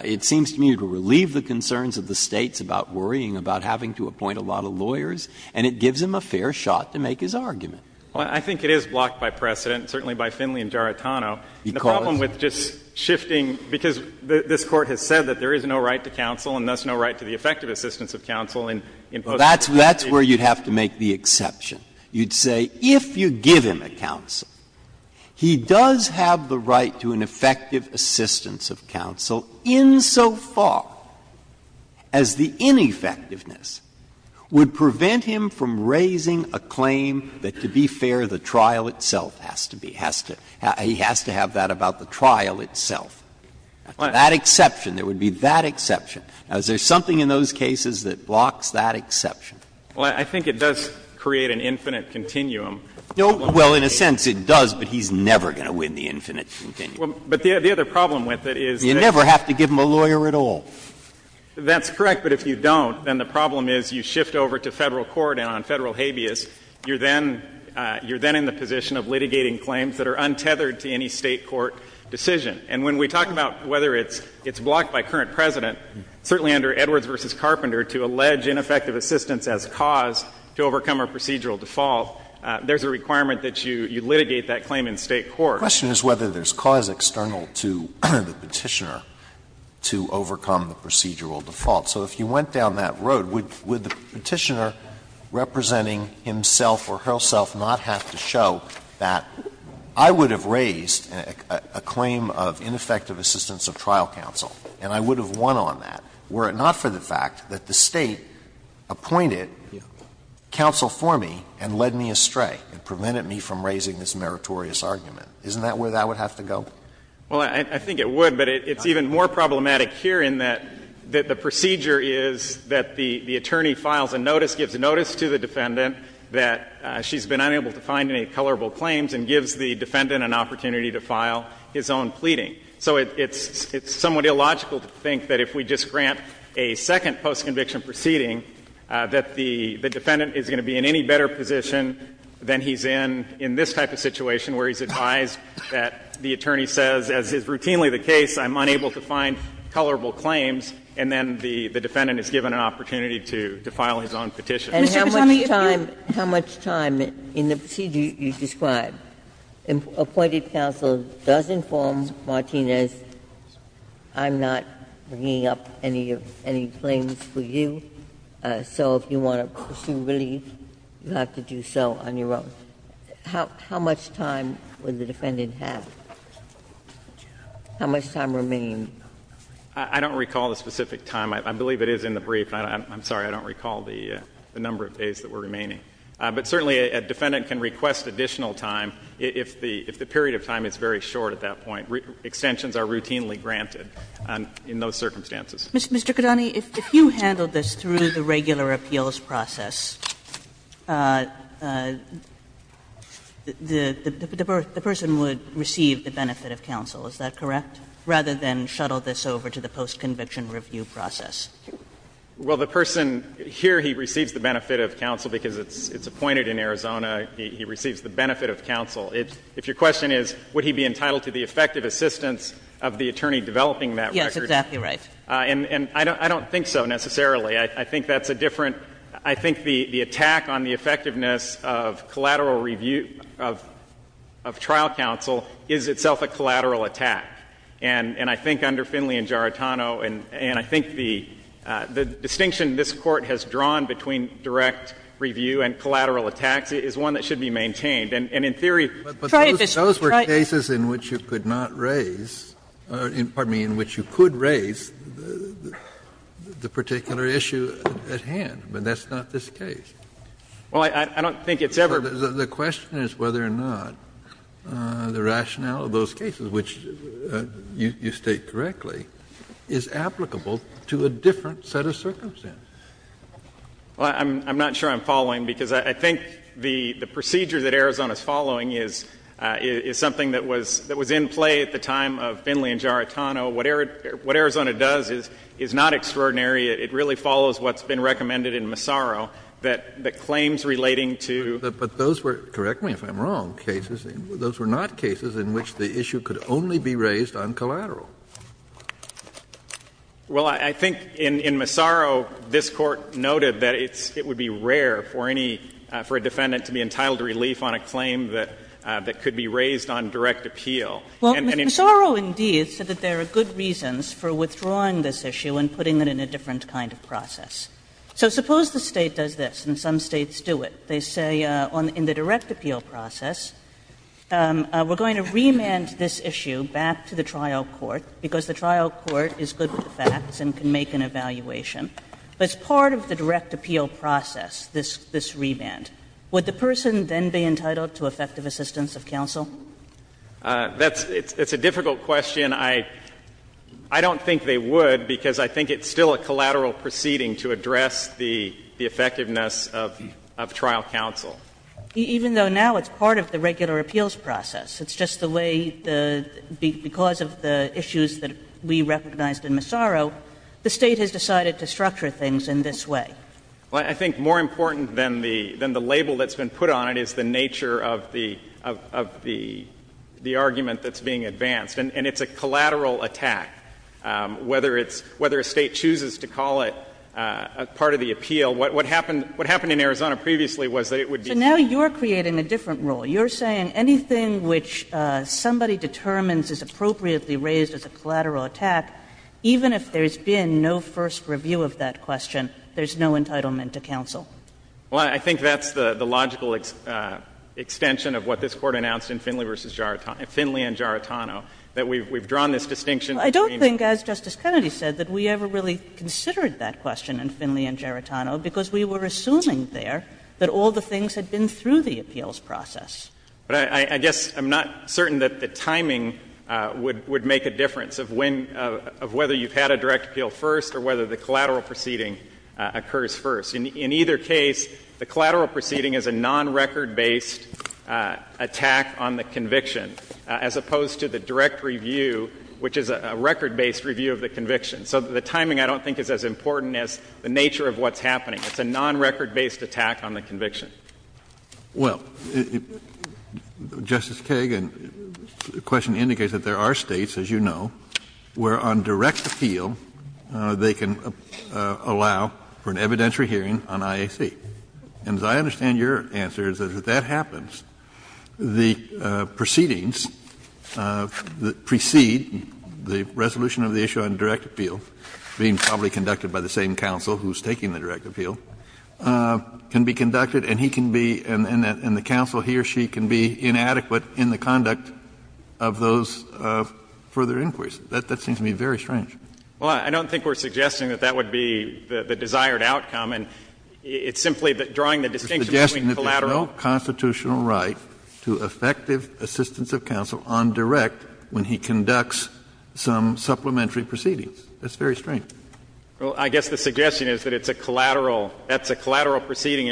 It seems to me to relieve the concerns of the States about worrying about having to appoint a lot of lawyers, and it gives him a fair shot to make his argument. Well, I think it is blocked by precedent, certainly by Finley and Giarratano. The problem with just shifting — because this Court has said that there is no right to counsel, and thus no right to the effective assistance of counsel in post-conviction. Well, that's where you'd have to make the exception. You'd say, if you give him a counsel, he does have the right to an effective assistance of counsel insofar as the ineffectiveness would prevent him from raising a claim that, to be fair, the trial itself has to be, has to — he has to have that about the trial itself. That exception, there would be that exception. Now, is there something in those cases that blocks that exception? Well, I think it does create an infinite continuum. No. Well, in a sense, it does, but he's never going to win the infinite continuum. But the other problem with it is that— You never have to give him a lawyer at all. That's correct. But if you don't, then the problem is you shift over to Federal court, and on Federal habeas, you're then — you're then in the position of litigating claims that are untethered to any State court decision. And when we talk about whether it's blocked by current President, certainly under Edwards v. Carpenter, to allege ineffective assistance as cause to overcome a procedural default, there's a requirement that you litigate that claim in State court. The question is whether there's cause external to the Petitioner to overcome the procedural default. So if you went down that road, would the Petitioner representing himself or herself not have to show that, I would have raised a claim of ineffective assistance of trial counsel, and I would have won on that, were it not for the fact that the State appointed counsel for me and led me astray and prevented me from raising this meritorious argument. Isn't that where that would have to go? Well, I think it would, but it's even more problematic here in that the procedure is that the attorney files a notice, gives a notice to the defendant that she's been unable to find any colorable claims, and gives the defendant an opportunity to file his own pleading. So it's somewhat illogical to think that if we just grant a second post-conviction proceeding, that the defendant is going to be in any better position than he's in, in this type of situation where he's advised that the attorney says, as is routinely the case, I'm unable to find colorable claims, and then the defendant is given an opportunity to file his own petition. And how much time, how much time in the procedure you describe, appointed counsel does inform Martinez, I'm not bringing up any of any claims for you, so if you want to pursue relief, you have to do so on your own. How much time would the defendant have? How much time remain? I don't recall the specific time. I believe it is in the brief. I'm sorry, I don't recall the number of days that were remaining. But certainly a defendant can request additional time if the period of time is very short at that point. Extensions are routinely granted in those circumstances. Mr. Kidani, if you handled this through the regular appeals process, the person would receive the benefit of counsel. Is that correct? Rather than shuttle this over to the post-conviction review process. Well, the person, here he receives the benefit of counsel because it's appointed in Arizona. He receives the benefit of counsel. If your question is, would he be entitled to the effective assistance of the attorney developing that record? Yes, exactly right. And I don't think so, necessarily. I think that's a different, I think the attack on the effectiveness of collateral review of trial counsel is itself a collateral attack. And I think under Finley and Giarratano, and I think the distinction this Court has drawn between direct review and collateral attacks is one that should be maintained. And in theory. But those were cases in which you could not raise, pardon me, in which you could raise the particular issue at hand. But that's not this case. Well, I don't think it's ever. The question is whether or not the rationale of those cases, which you state correctly, is applicable to a different set of circumstances. Well, I'm not sure I'm following because I think the procedure that Arizona's following is something that was in play at the time of Finley and Giarratano. What Arizona does is not extraordinary. It really follows what's been recommended in Massaro that claims relating to But those were, correct me if I'm wrong, cases, those were not cases in which the issue could only be raised on collateral. Well, I think in Massaro, this Court noted that it's, it would be rare for any, for a defendant to be entitled to relief on a claim that could be raised on direct appeal. Well, Massaro indeed said that there are good reasons for withdrawing this issue and putting it in a different kind of process. So suppose the State does this, and some States do it. They say, in the direct appeal process, we're going to remand this issue back to the trial court because the trial court is good with the facts and can make an evaluation. As part of the direct appeal process, this remand, would the person then be entitled to effective assistance of counsel? It's a difficult question. I don't think they would because I think it's still a collateral proceeding to address the effectiveness of trial counsel. Even though now it's part of the regular appeals process, it's just the way, because of the issues that we recognized in Massaro, the State has decided to structure things in this way. I think more important than the label that's been put on it is the nature of the argument that's being advanced. And it's a collateral attack. Whether it's — whether a State chooses to call it a part of the appeal, what happened in Arizona previously was that it would be. So now you're creating a different rule. You're saying anything which somebody determines is appropriately raised as a collateral attack, even if there's been no first review of that question, there's no entitlement to counsel. Well, I think that's the logical extension of what this Court announced in Finley v. Jaritano — Finley v. Jaritano, that we've drawn this distinction. I don't think, as Justice Kennedy said, that we ever really considered that question in Finley v. Jaritano because we were assuming there that all the things had been through the appeals process. But I guess I'm not certain that the timing would make a difference of when — of whether you've had a direct appeal first or whether the collateral proceeding occurs first. In either case, the collateral proceeding is a non-record-based attack on the conviction as opposed to the direct review, which is a record-based review of the conviction. So the timing I don't think is as important as the nature of what's happening. It's a non-record-based attack on the conviction. Well, Justice Kagan, the question indicates that there are States, as you know, where on direct appeal they can allow for an evidentiary hearing on IAC. And as I understand your answer is that if that happens, the proceedings that precede the resolution of the issue on direct appeal, being probably conducted by the same counsel who's taking the direct appeal, can be conducted and he can be — and the counsel, he or she can be inadequate in the conduct of those further inquiries. That seems to me very strange. Well, I don't think we're suggesting that that would be the desired outcome. And it's simply that drawing the distinction between collateral— It's a suggestion that there's no constitutional right to effective assistance of counsel on direct when he conducts some supplementary proceedings. That's very strange. Well, I guess the suggestion is that it's a collateral — that's a collateral proceeding.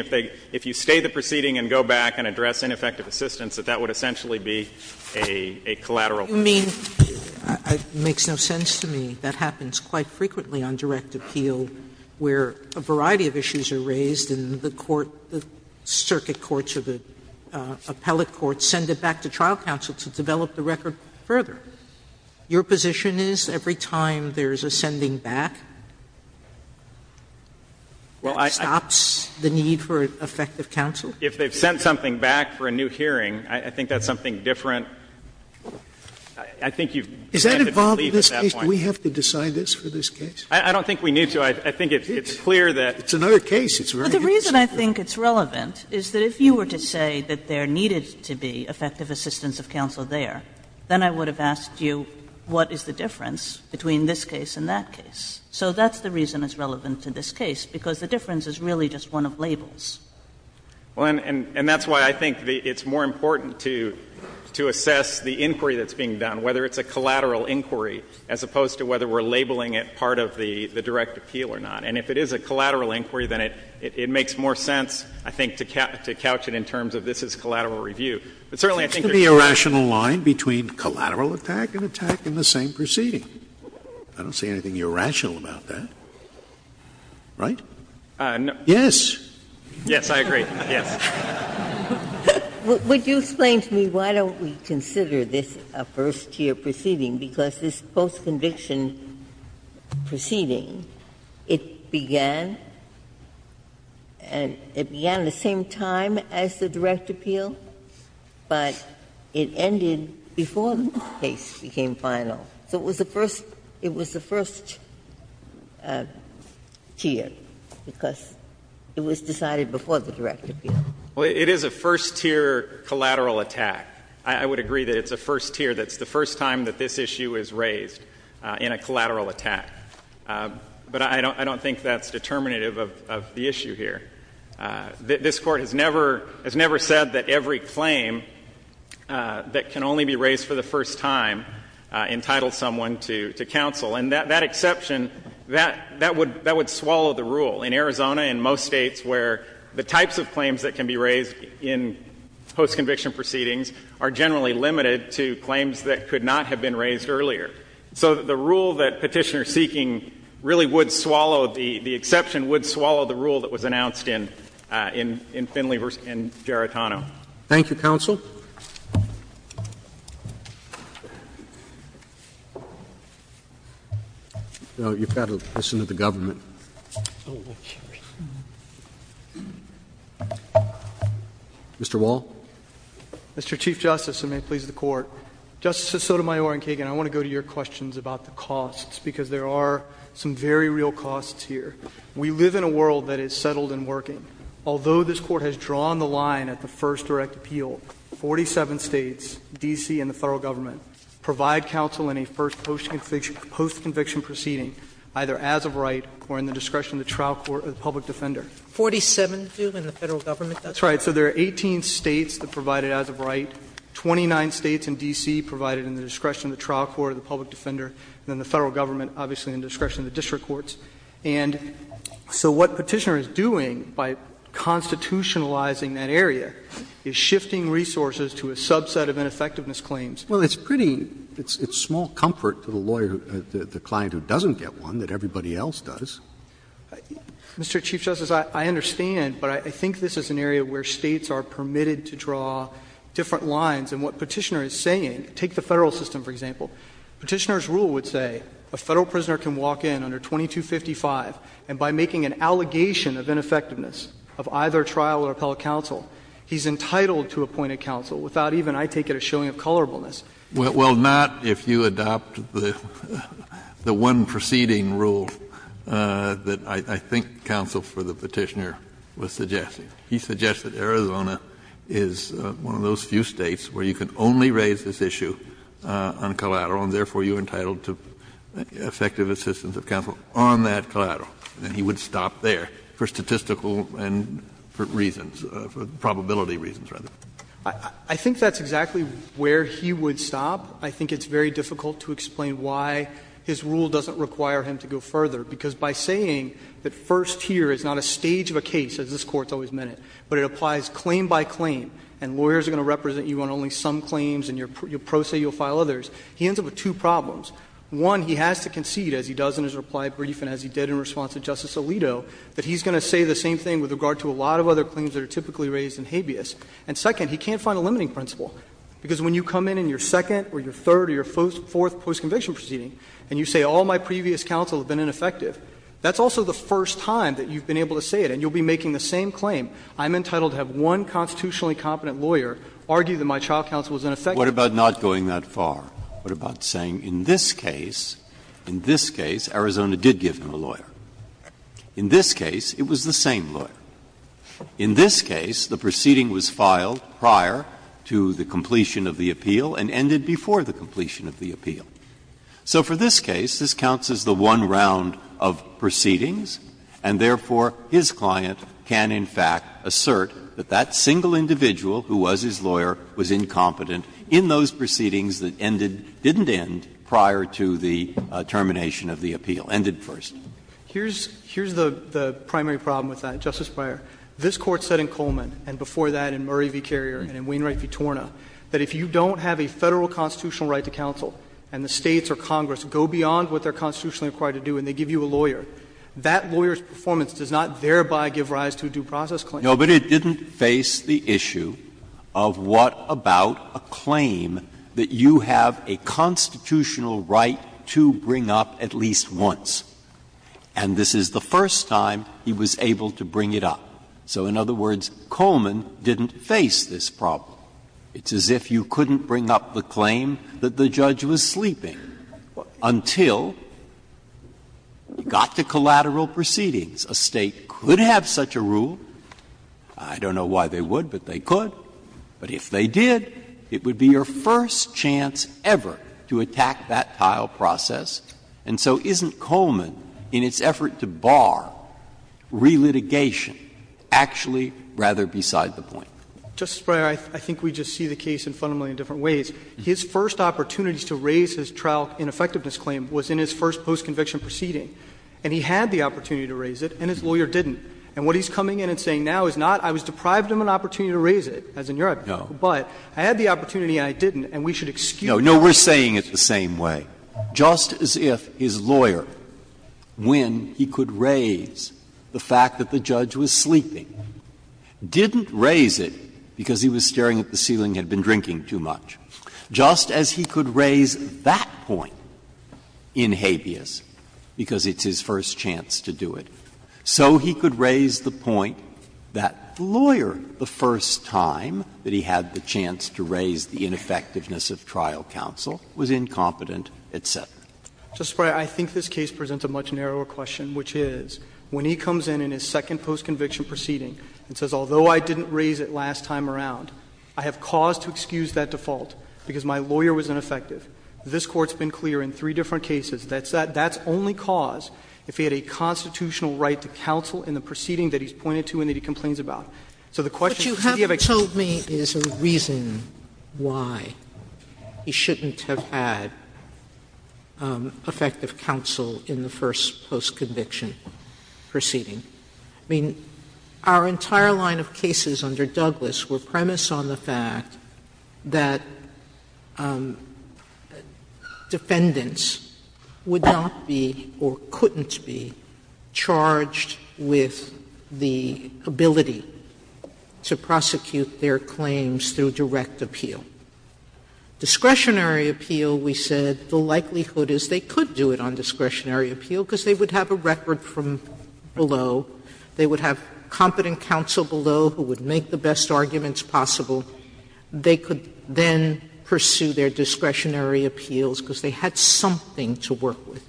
If you stay the proceeding and go back and address ineffective assistance, that that would essentially be a collateral proceeding. You mean — it makes no sense to me that happens quite frequently on direct appeal where a variety of issues are raised and the court — the circuit courts or the appellate courts send it back to trial counsel to develop the record further. Your position is every time there's a sending back, that stops the need for effective counsel? If they've sent something back for a new hearing, I think that's something different. I think you've— Is that involved in this case? Do we have to decide this for this case? I don't think we need to. I think it's clear that— It's another case. It's very interesting. But the reason I think it's relevant is that if you were to say that there needed to be effective assistance of counsel there, then I would have asked you what is the difference between this case and that case. So that's the reason it's relevant to this case, because the difference is really just one of labels. Well, and that's why I think it's more important to assess the inquiry that's being done, whether it's a collateral inquiry as opposed to whether we're labeling it part of the direct appeal or not. And if it is a collateral inquiry, then it makes more sense, I think, to couch it in terms of this is collateral review. But certainly I think there's— There seems to be a rational line between collateral attack and attack in the same proceeding. I don't see anything irrational about that. Right? Yes. Yes, I agree. Yes. Would you explain to me why don't we consider this a first-tier proceeding? Because this post-conviction proceeding, it began at the same time as the direct appeal, but it ended before this case became final. So it was the first tier, because it was decided before the direct appeal. Well, it is a first-tier collateral attack. I would agree that it's a first tier. That's the first time that this issue is raised in a collateral attack. But I don't think that's determinative of the issue here. This Court has never said that every claim that can only be raised for the first time entitles someone to counsel. And that exception, that would swallow the rule. In Arizona, in most states where the types of claims that can be raised in post-conviction proceedings are generally limited to claims that could not have been raised earlier. So the rule that Petitioner is seeking really would swallow, the exception would swallow the rule that was announced in Finley v. Gerritano. Thank you, counsel. You've got to listen to the government. Mr. Wall. Mr. Chief Justice, and may it please the Court. Justices Sotomayor and Kagan, I want to go to your questions about the costs, because there are some very real costs here. We live in a world that is settled and working. Although this Court has drawn the line at the first direct appeal, 47 states, D.C. and the Federal Government, provide counsel in a first post-conviction proceeding, either as of right or in the discretion of the trial court or the public defender. Sotomayor, that's right. So there are 18 states that provide it as of right, 29 states in D.C. provide it in the discretion of the trial court or the public defender, and then the Federal Government obviously in the discretion of the district courts. And so what Petitioner is doing by constitutionalizing that area is shifting resources to a subset of ineffectiveness claims. Well, it's pretty — it's small comfort to the lawyer — the client who doesn't get one that everybody else does. Mr. Chief Justice, I understand, but I think this is an area where states are permitted to draw different lines. And what Petitioner is saying — take the Federal system, for example. Petitioner's rule would say a Federal prisoner can walk in under 2255, and by making an allegation of ineffectiveness of either trial or appellate counsel, he's entitled to appointed counsel without even, I take it, a showing of colorableness. Well, not if you adopt the one preceding rule that I think counsel for the Petitioner was suggesting. He suggested Arizona is one of those few states where you can only raise this issue on collateral, and therefore you're entitled to effective assistance of counsel on that collateral. And he would stop there for statistical and for reasons, for probability reasons, rather. I think that's exactly where he would stop. I think it's very difficult to explain why his rule doesn't require him to go further. Because by saying that first here is not a stage of a case, as this Court's always meant it, but it applies claim by claim and lawyers are going to represent you on only some claims and you'll pro se, you'll file others, he ends up with two problems. One, he has to concede, as he does in his reply brief and as he did in response to Justice Alito, that he's going to say the same thing with regard to a lot of other claims that are typically raised in habeas. And second, he can't find a limiting principle, because when you come in in your second or your third or your fourth post-conviction proceeding and you say all my previous counsel have been ineffective, that's also the first time that you've been able to say it, and you'll be making the same claim. I'm entitled to have one constitutionally competent lawyer argue that my child counsel was ineffective. Breyer. What about not going that far? What about saying in this case, in this case, Arizona did give him a lawyer. In this case, it was the same lawyer. In this case, the proceeding was filed prior to the completion of the appeal and ended before the completion of the appeal. So for this case, this counts as the one round of proceedings, and therefore his client can in fact assert that that single individual who was his lawyer was incompetent in those proceedings that ended, didn't end prior to the termination of the appeal, ended first. Here's the primary problem with that, Justice Breyer. This Court said in Coleman and before that in Murray v. Carrier and in Wainwright v. Torna, that if you don't have a Federal constitutional right to counsel and the States or Congress go beyond what they're constitutionally required to do and they cannot thereby give rise to a due process claim. Breyer. No, but it didn't face the issue of what about a claim that you have a constitutional right to bring up at least once, and this is the first time he was able to bring it up. So, in other words, Coleman didn't face this problem. It's as if you couldn't bring up the claim that the judge was sleeping until you got to collateral proceedings. A State could have such a rule. I don't know why they would, but they could. But if they did, it would be your first chance ever to attack that trial process. And so isn't Coleman, in its effort to bar relitigation, actually rather beside the point? Justice Breyer, I think we just see the case in fundamentally different ways. His first opportunities to raise his trial ineffectiveness claim was in his first post-conviction proceeding. And he had the opportunity to raise it, and his lawyer didn't. And what he's coming in and saying now is not, I was deprived of an opportunity to raise it, as in your hypothetical, but I had the opportunity and I didn't, and we should excuse that. Breyer. No, we're saying it the same way. Just as if his lawyer, when he could raise the fact that the judge was sleeping, didn't raise it because he was staring at the ceiling and had been drinking too much. Just as he could raise that point in habeas because it's his first chance to do it. So he could raise the point that the lawyer, the first time that he had the chance to raise the ineffectiveness of trial counsel, was incompetent, et cetera. Justice Breyer, I think this case presents a much narrower question, which is, when he comes in in his second post-conviction proceeding and says, although I didn't raise it last time around, I have cause to excuse that default, because my lawyer was ineffective, this Court's been clear in three different cases, that's only cause if he had a constitutional right to counsel in the proceeding that he's pointed to and that he complains about. So the question is, do you have a case that's not effective in the first post-conviction proceeding? Sotomayor, what you haven't told me is a reason why he shouldn't have had effective counsel in the first post-conviction proceeding. I mean, our entire line of cases under Douglas were premised on the fact that defendants would not be or couldn't be charged with the ability to prosecute their claims through direct appeal. Discretionary appeal, we said, the likelihood is they could do it on discretionary appeal because they would have a record from below, they would have competent counsel below who would make the best arguments possible. They could then pursue their discretionary appeals because they had something to work with.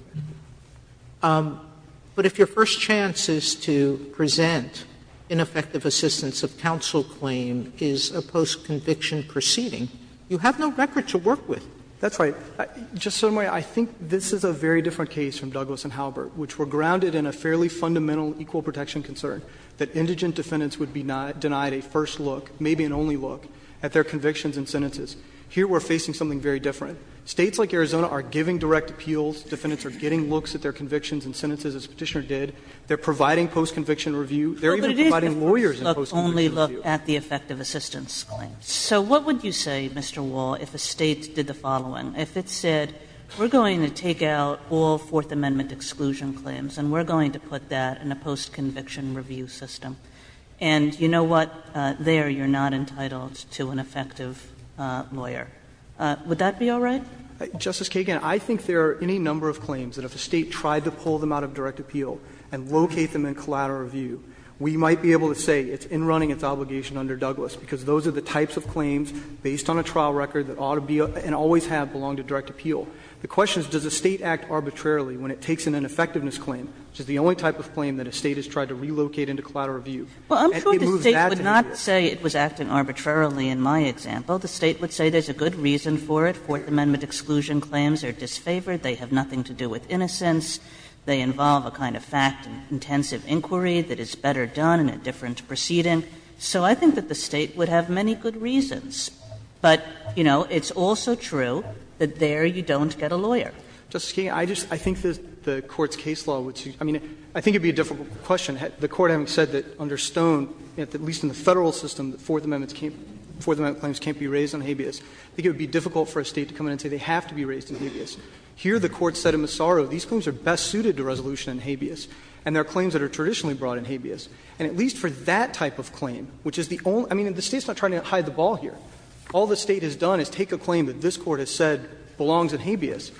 But if your first chance is to present ineffective assistance of counsel claim is a post-conviction proceeding, you have no record to work with. That's right. Just, Sotomayor, I think this is a very different case from Douglas and Halbert, which were grounded in a fairly fundamental equal protection concern, that indigent defendants would be denied a first look, maybe an only look, at their convictions and sentences. Here we're facing something very different. States like Arizona are giving direct appeals. Defendants are getting looks at their convictions and sentences, as the Petitioner They're even providing lawyers in post-conviction review. only look at the effective assistance claim. So what would you say, Mr. Wall, if a State did the following? If it said, we're going to take out all Fourth Amendment exclusion claims and we're going to put that in a post-conviction review system, and you know what? There you're not entitled to an effective lawyer. Would that be all right? Justice Kagan, I think there are any number of claims that if a State tried to pull them out of direct appeal and locate them in collateral review, we might be able to say it's in running its obligation under Douglas, because those are the types of claims based on a trial record that ought to be, and always have, belonged to direct appeal. The question is, does a State act arbitrarily when it takes an ineffectiveness claim, which is the only type of claim that a State has tried to relocate into collateral review? And it moves that to the jury. Kagan, I'm sure the State would not say it was acting arbitrarily in my example. The State would say there's a good reason for it. Fourth Amendment exclusion claims are disfavored, they have nothing to do with innocence, they involve a kind of fact-intensive inquiry that is better done in a different proceeding. So I think that the State would have many good reasons. But, you know, it's also true that there you don't get a lawyer. Justice Kagan, I just — I think the Court's case law would — I mean, I think it would be a difficult question. The Court having said that under Stone, at least in the Federal system, the Fourth Amendment claims can't be raised on habeas. I think it would be difficult for a State to come in and say they have to be raised on habeas. Here the Court said in Massaro these claims are best suited to resolution on habeas, and there are claims that are traditionally brought on habeas. And at least for that type of claim, which is the only — I mean, the State's not trying to hide the ball here. All the State has done is take a claim that this Court has said belongs in habeas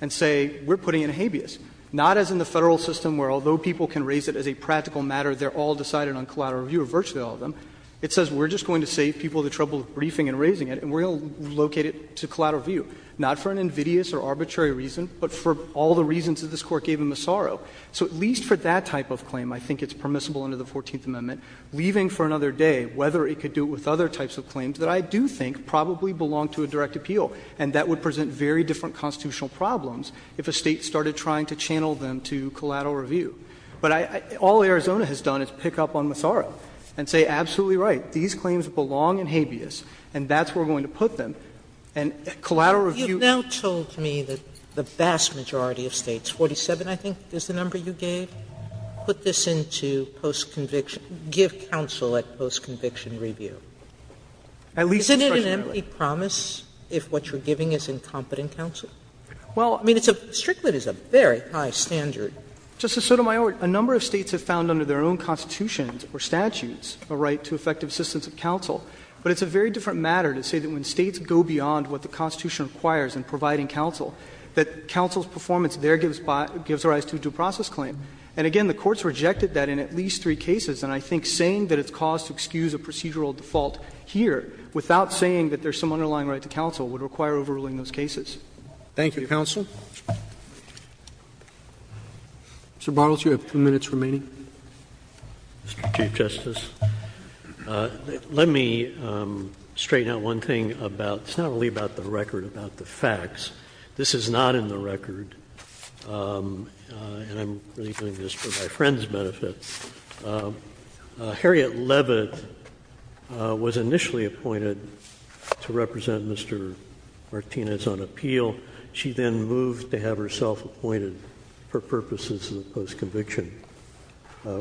and say we're putting it in habeas. Not as in the Federal system where, although people can raise it as a practical matter, they're all decided on collateral review, or virtually all of them. It says we're just going to save people the trouble of briefing and raising it, and we're going to locate it to collateral review, not for an invidious or arbitrary reason, but for all the reasons that this Court gave in Massaro. So at least for that type of claim, I think it's permissible under the Fourteenth Amendment, leaving for another day whether it could do it with other types of claims that I do think probably belong to a direct appeal, and that would present very different constitutional problems if a State started trying to channel them to collateral review. But I — all Arizona has done is pick up on Massaro and say, absolutely right, these claims belong in habeas, and that's where we're going to put them. And collateral review— Sotomayor, it's unusual to me that the vast majority of States, 47, I think, is the number you gave, put this into post-conviction — give counsel at post-conviction review. Is it an empty promise if what you're giving is incompetent counsel? Well, I mean, it's a — Strickland is a very high standard. Justice Sotomayor, a number of States have found under their own constitutions or statutes a right to effective assistance of counsel. But it's a very different matter to say that when States go beyond what the Constitution requires in providing counsel, that counsel's performance there gives rise to a due process claim. And again, the Court's rejected that in at least three cases. And I think saying that it's cause to excuse a procedural default here, without saying that there's some underlying right to counsel, would require overruling those cases. Thank you, counsel. Mr. Bartels, you have two minutes remaining. Mr. Chief Justice, let me straighten out one thing about — it's not really about the record, about the facts. This is not in the record, and I'm really doing this for my friend's benefit. Harriet Leavitt was initially appointed to represent Mr. Martinez on appeal. She then moved to have herself appointed for purposes of the post-conviction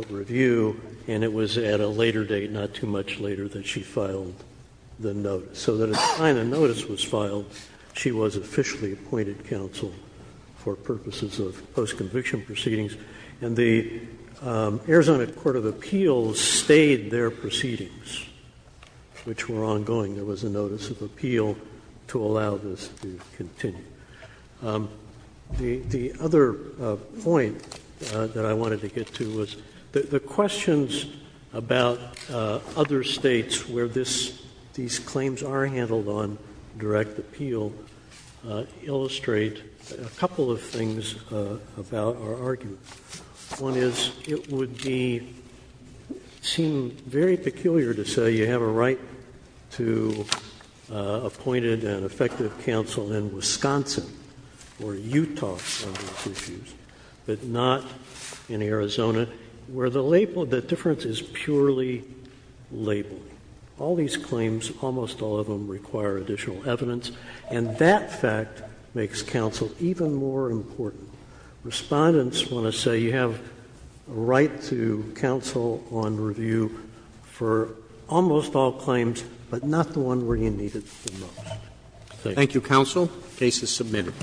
review, and it was at a later date, not too much later, that she filed the notice. So that at the time the notice was filed, she was officially appointed counsel for purposes of post-conviction proceedings. And the Arizona Court of Appeals stayed their proceedings, which were ongoing. There was a notice of appeal to allow this to continue. The other point that I wanted to get to was the questions about other States where these claims are handled on direct appeal illustrate a couple of things about our argument. One is, it would be — seem very peculiar to say you have a right to appoint an effective counsel in Wisconsin or Utah on these issues, but not in Arizona, where the label, the claims, almost all of them require additional evidence. And that fact makes counsel even more important. Respondents want to say you have a right to counsel on review for almost all claims, but not the one where you need it the most. Roberts. Thank you, counsel. The case is submitted.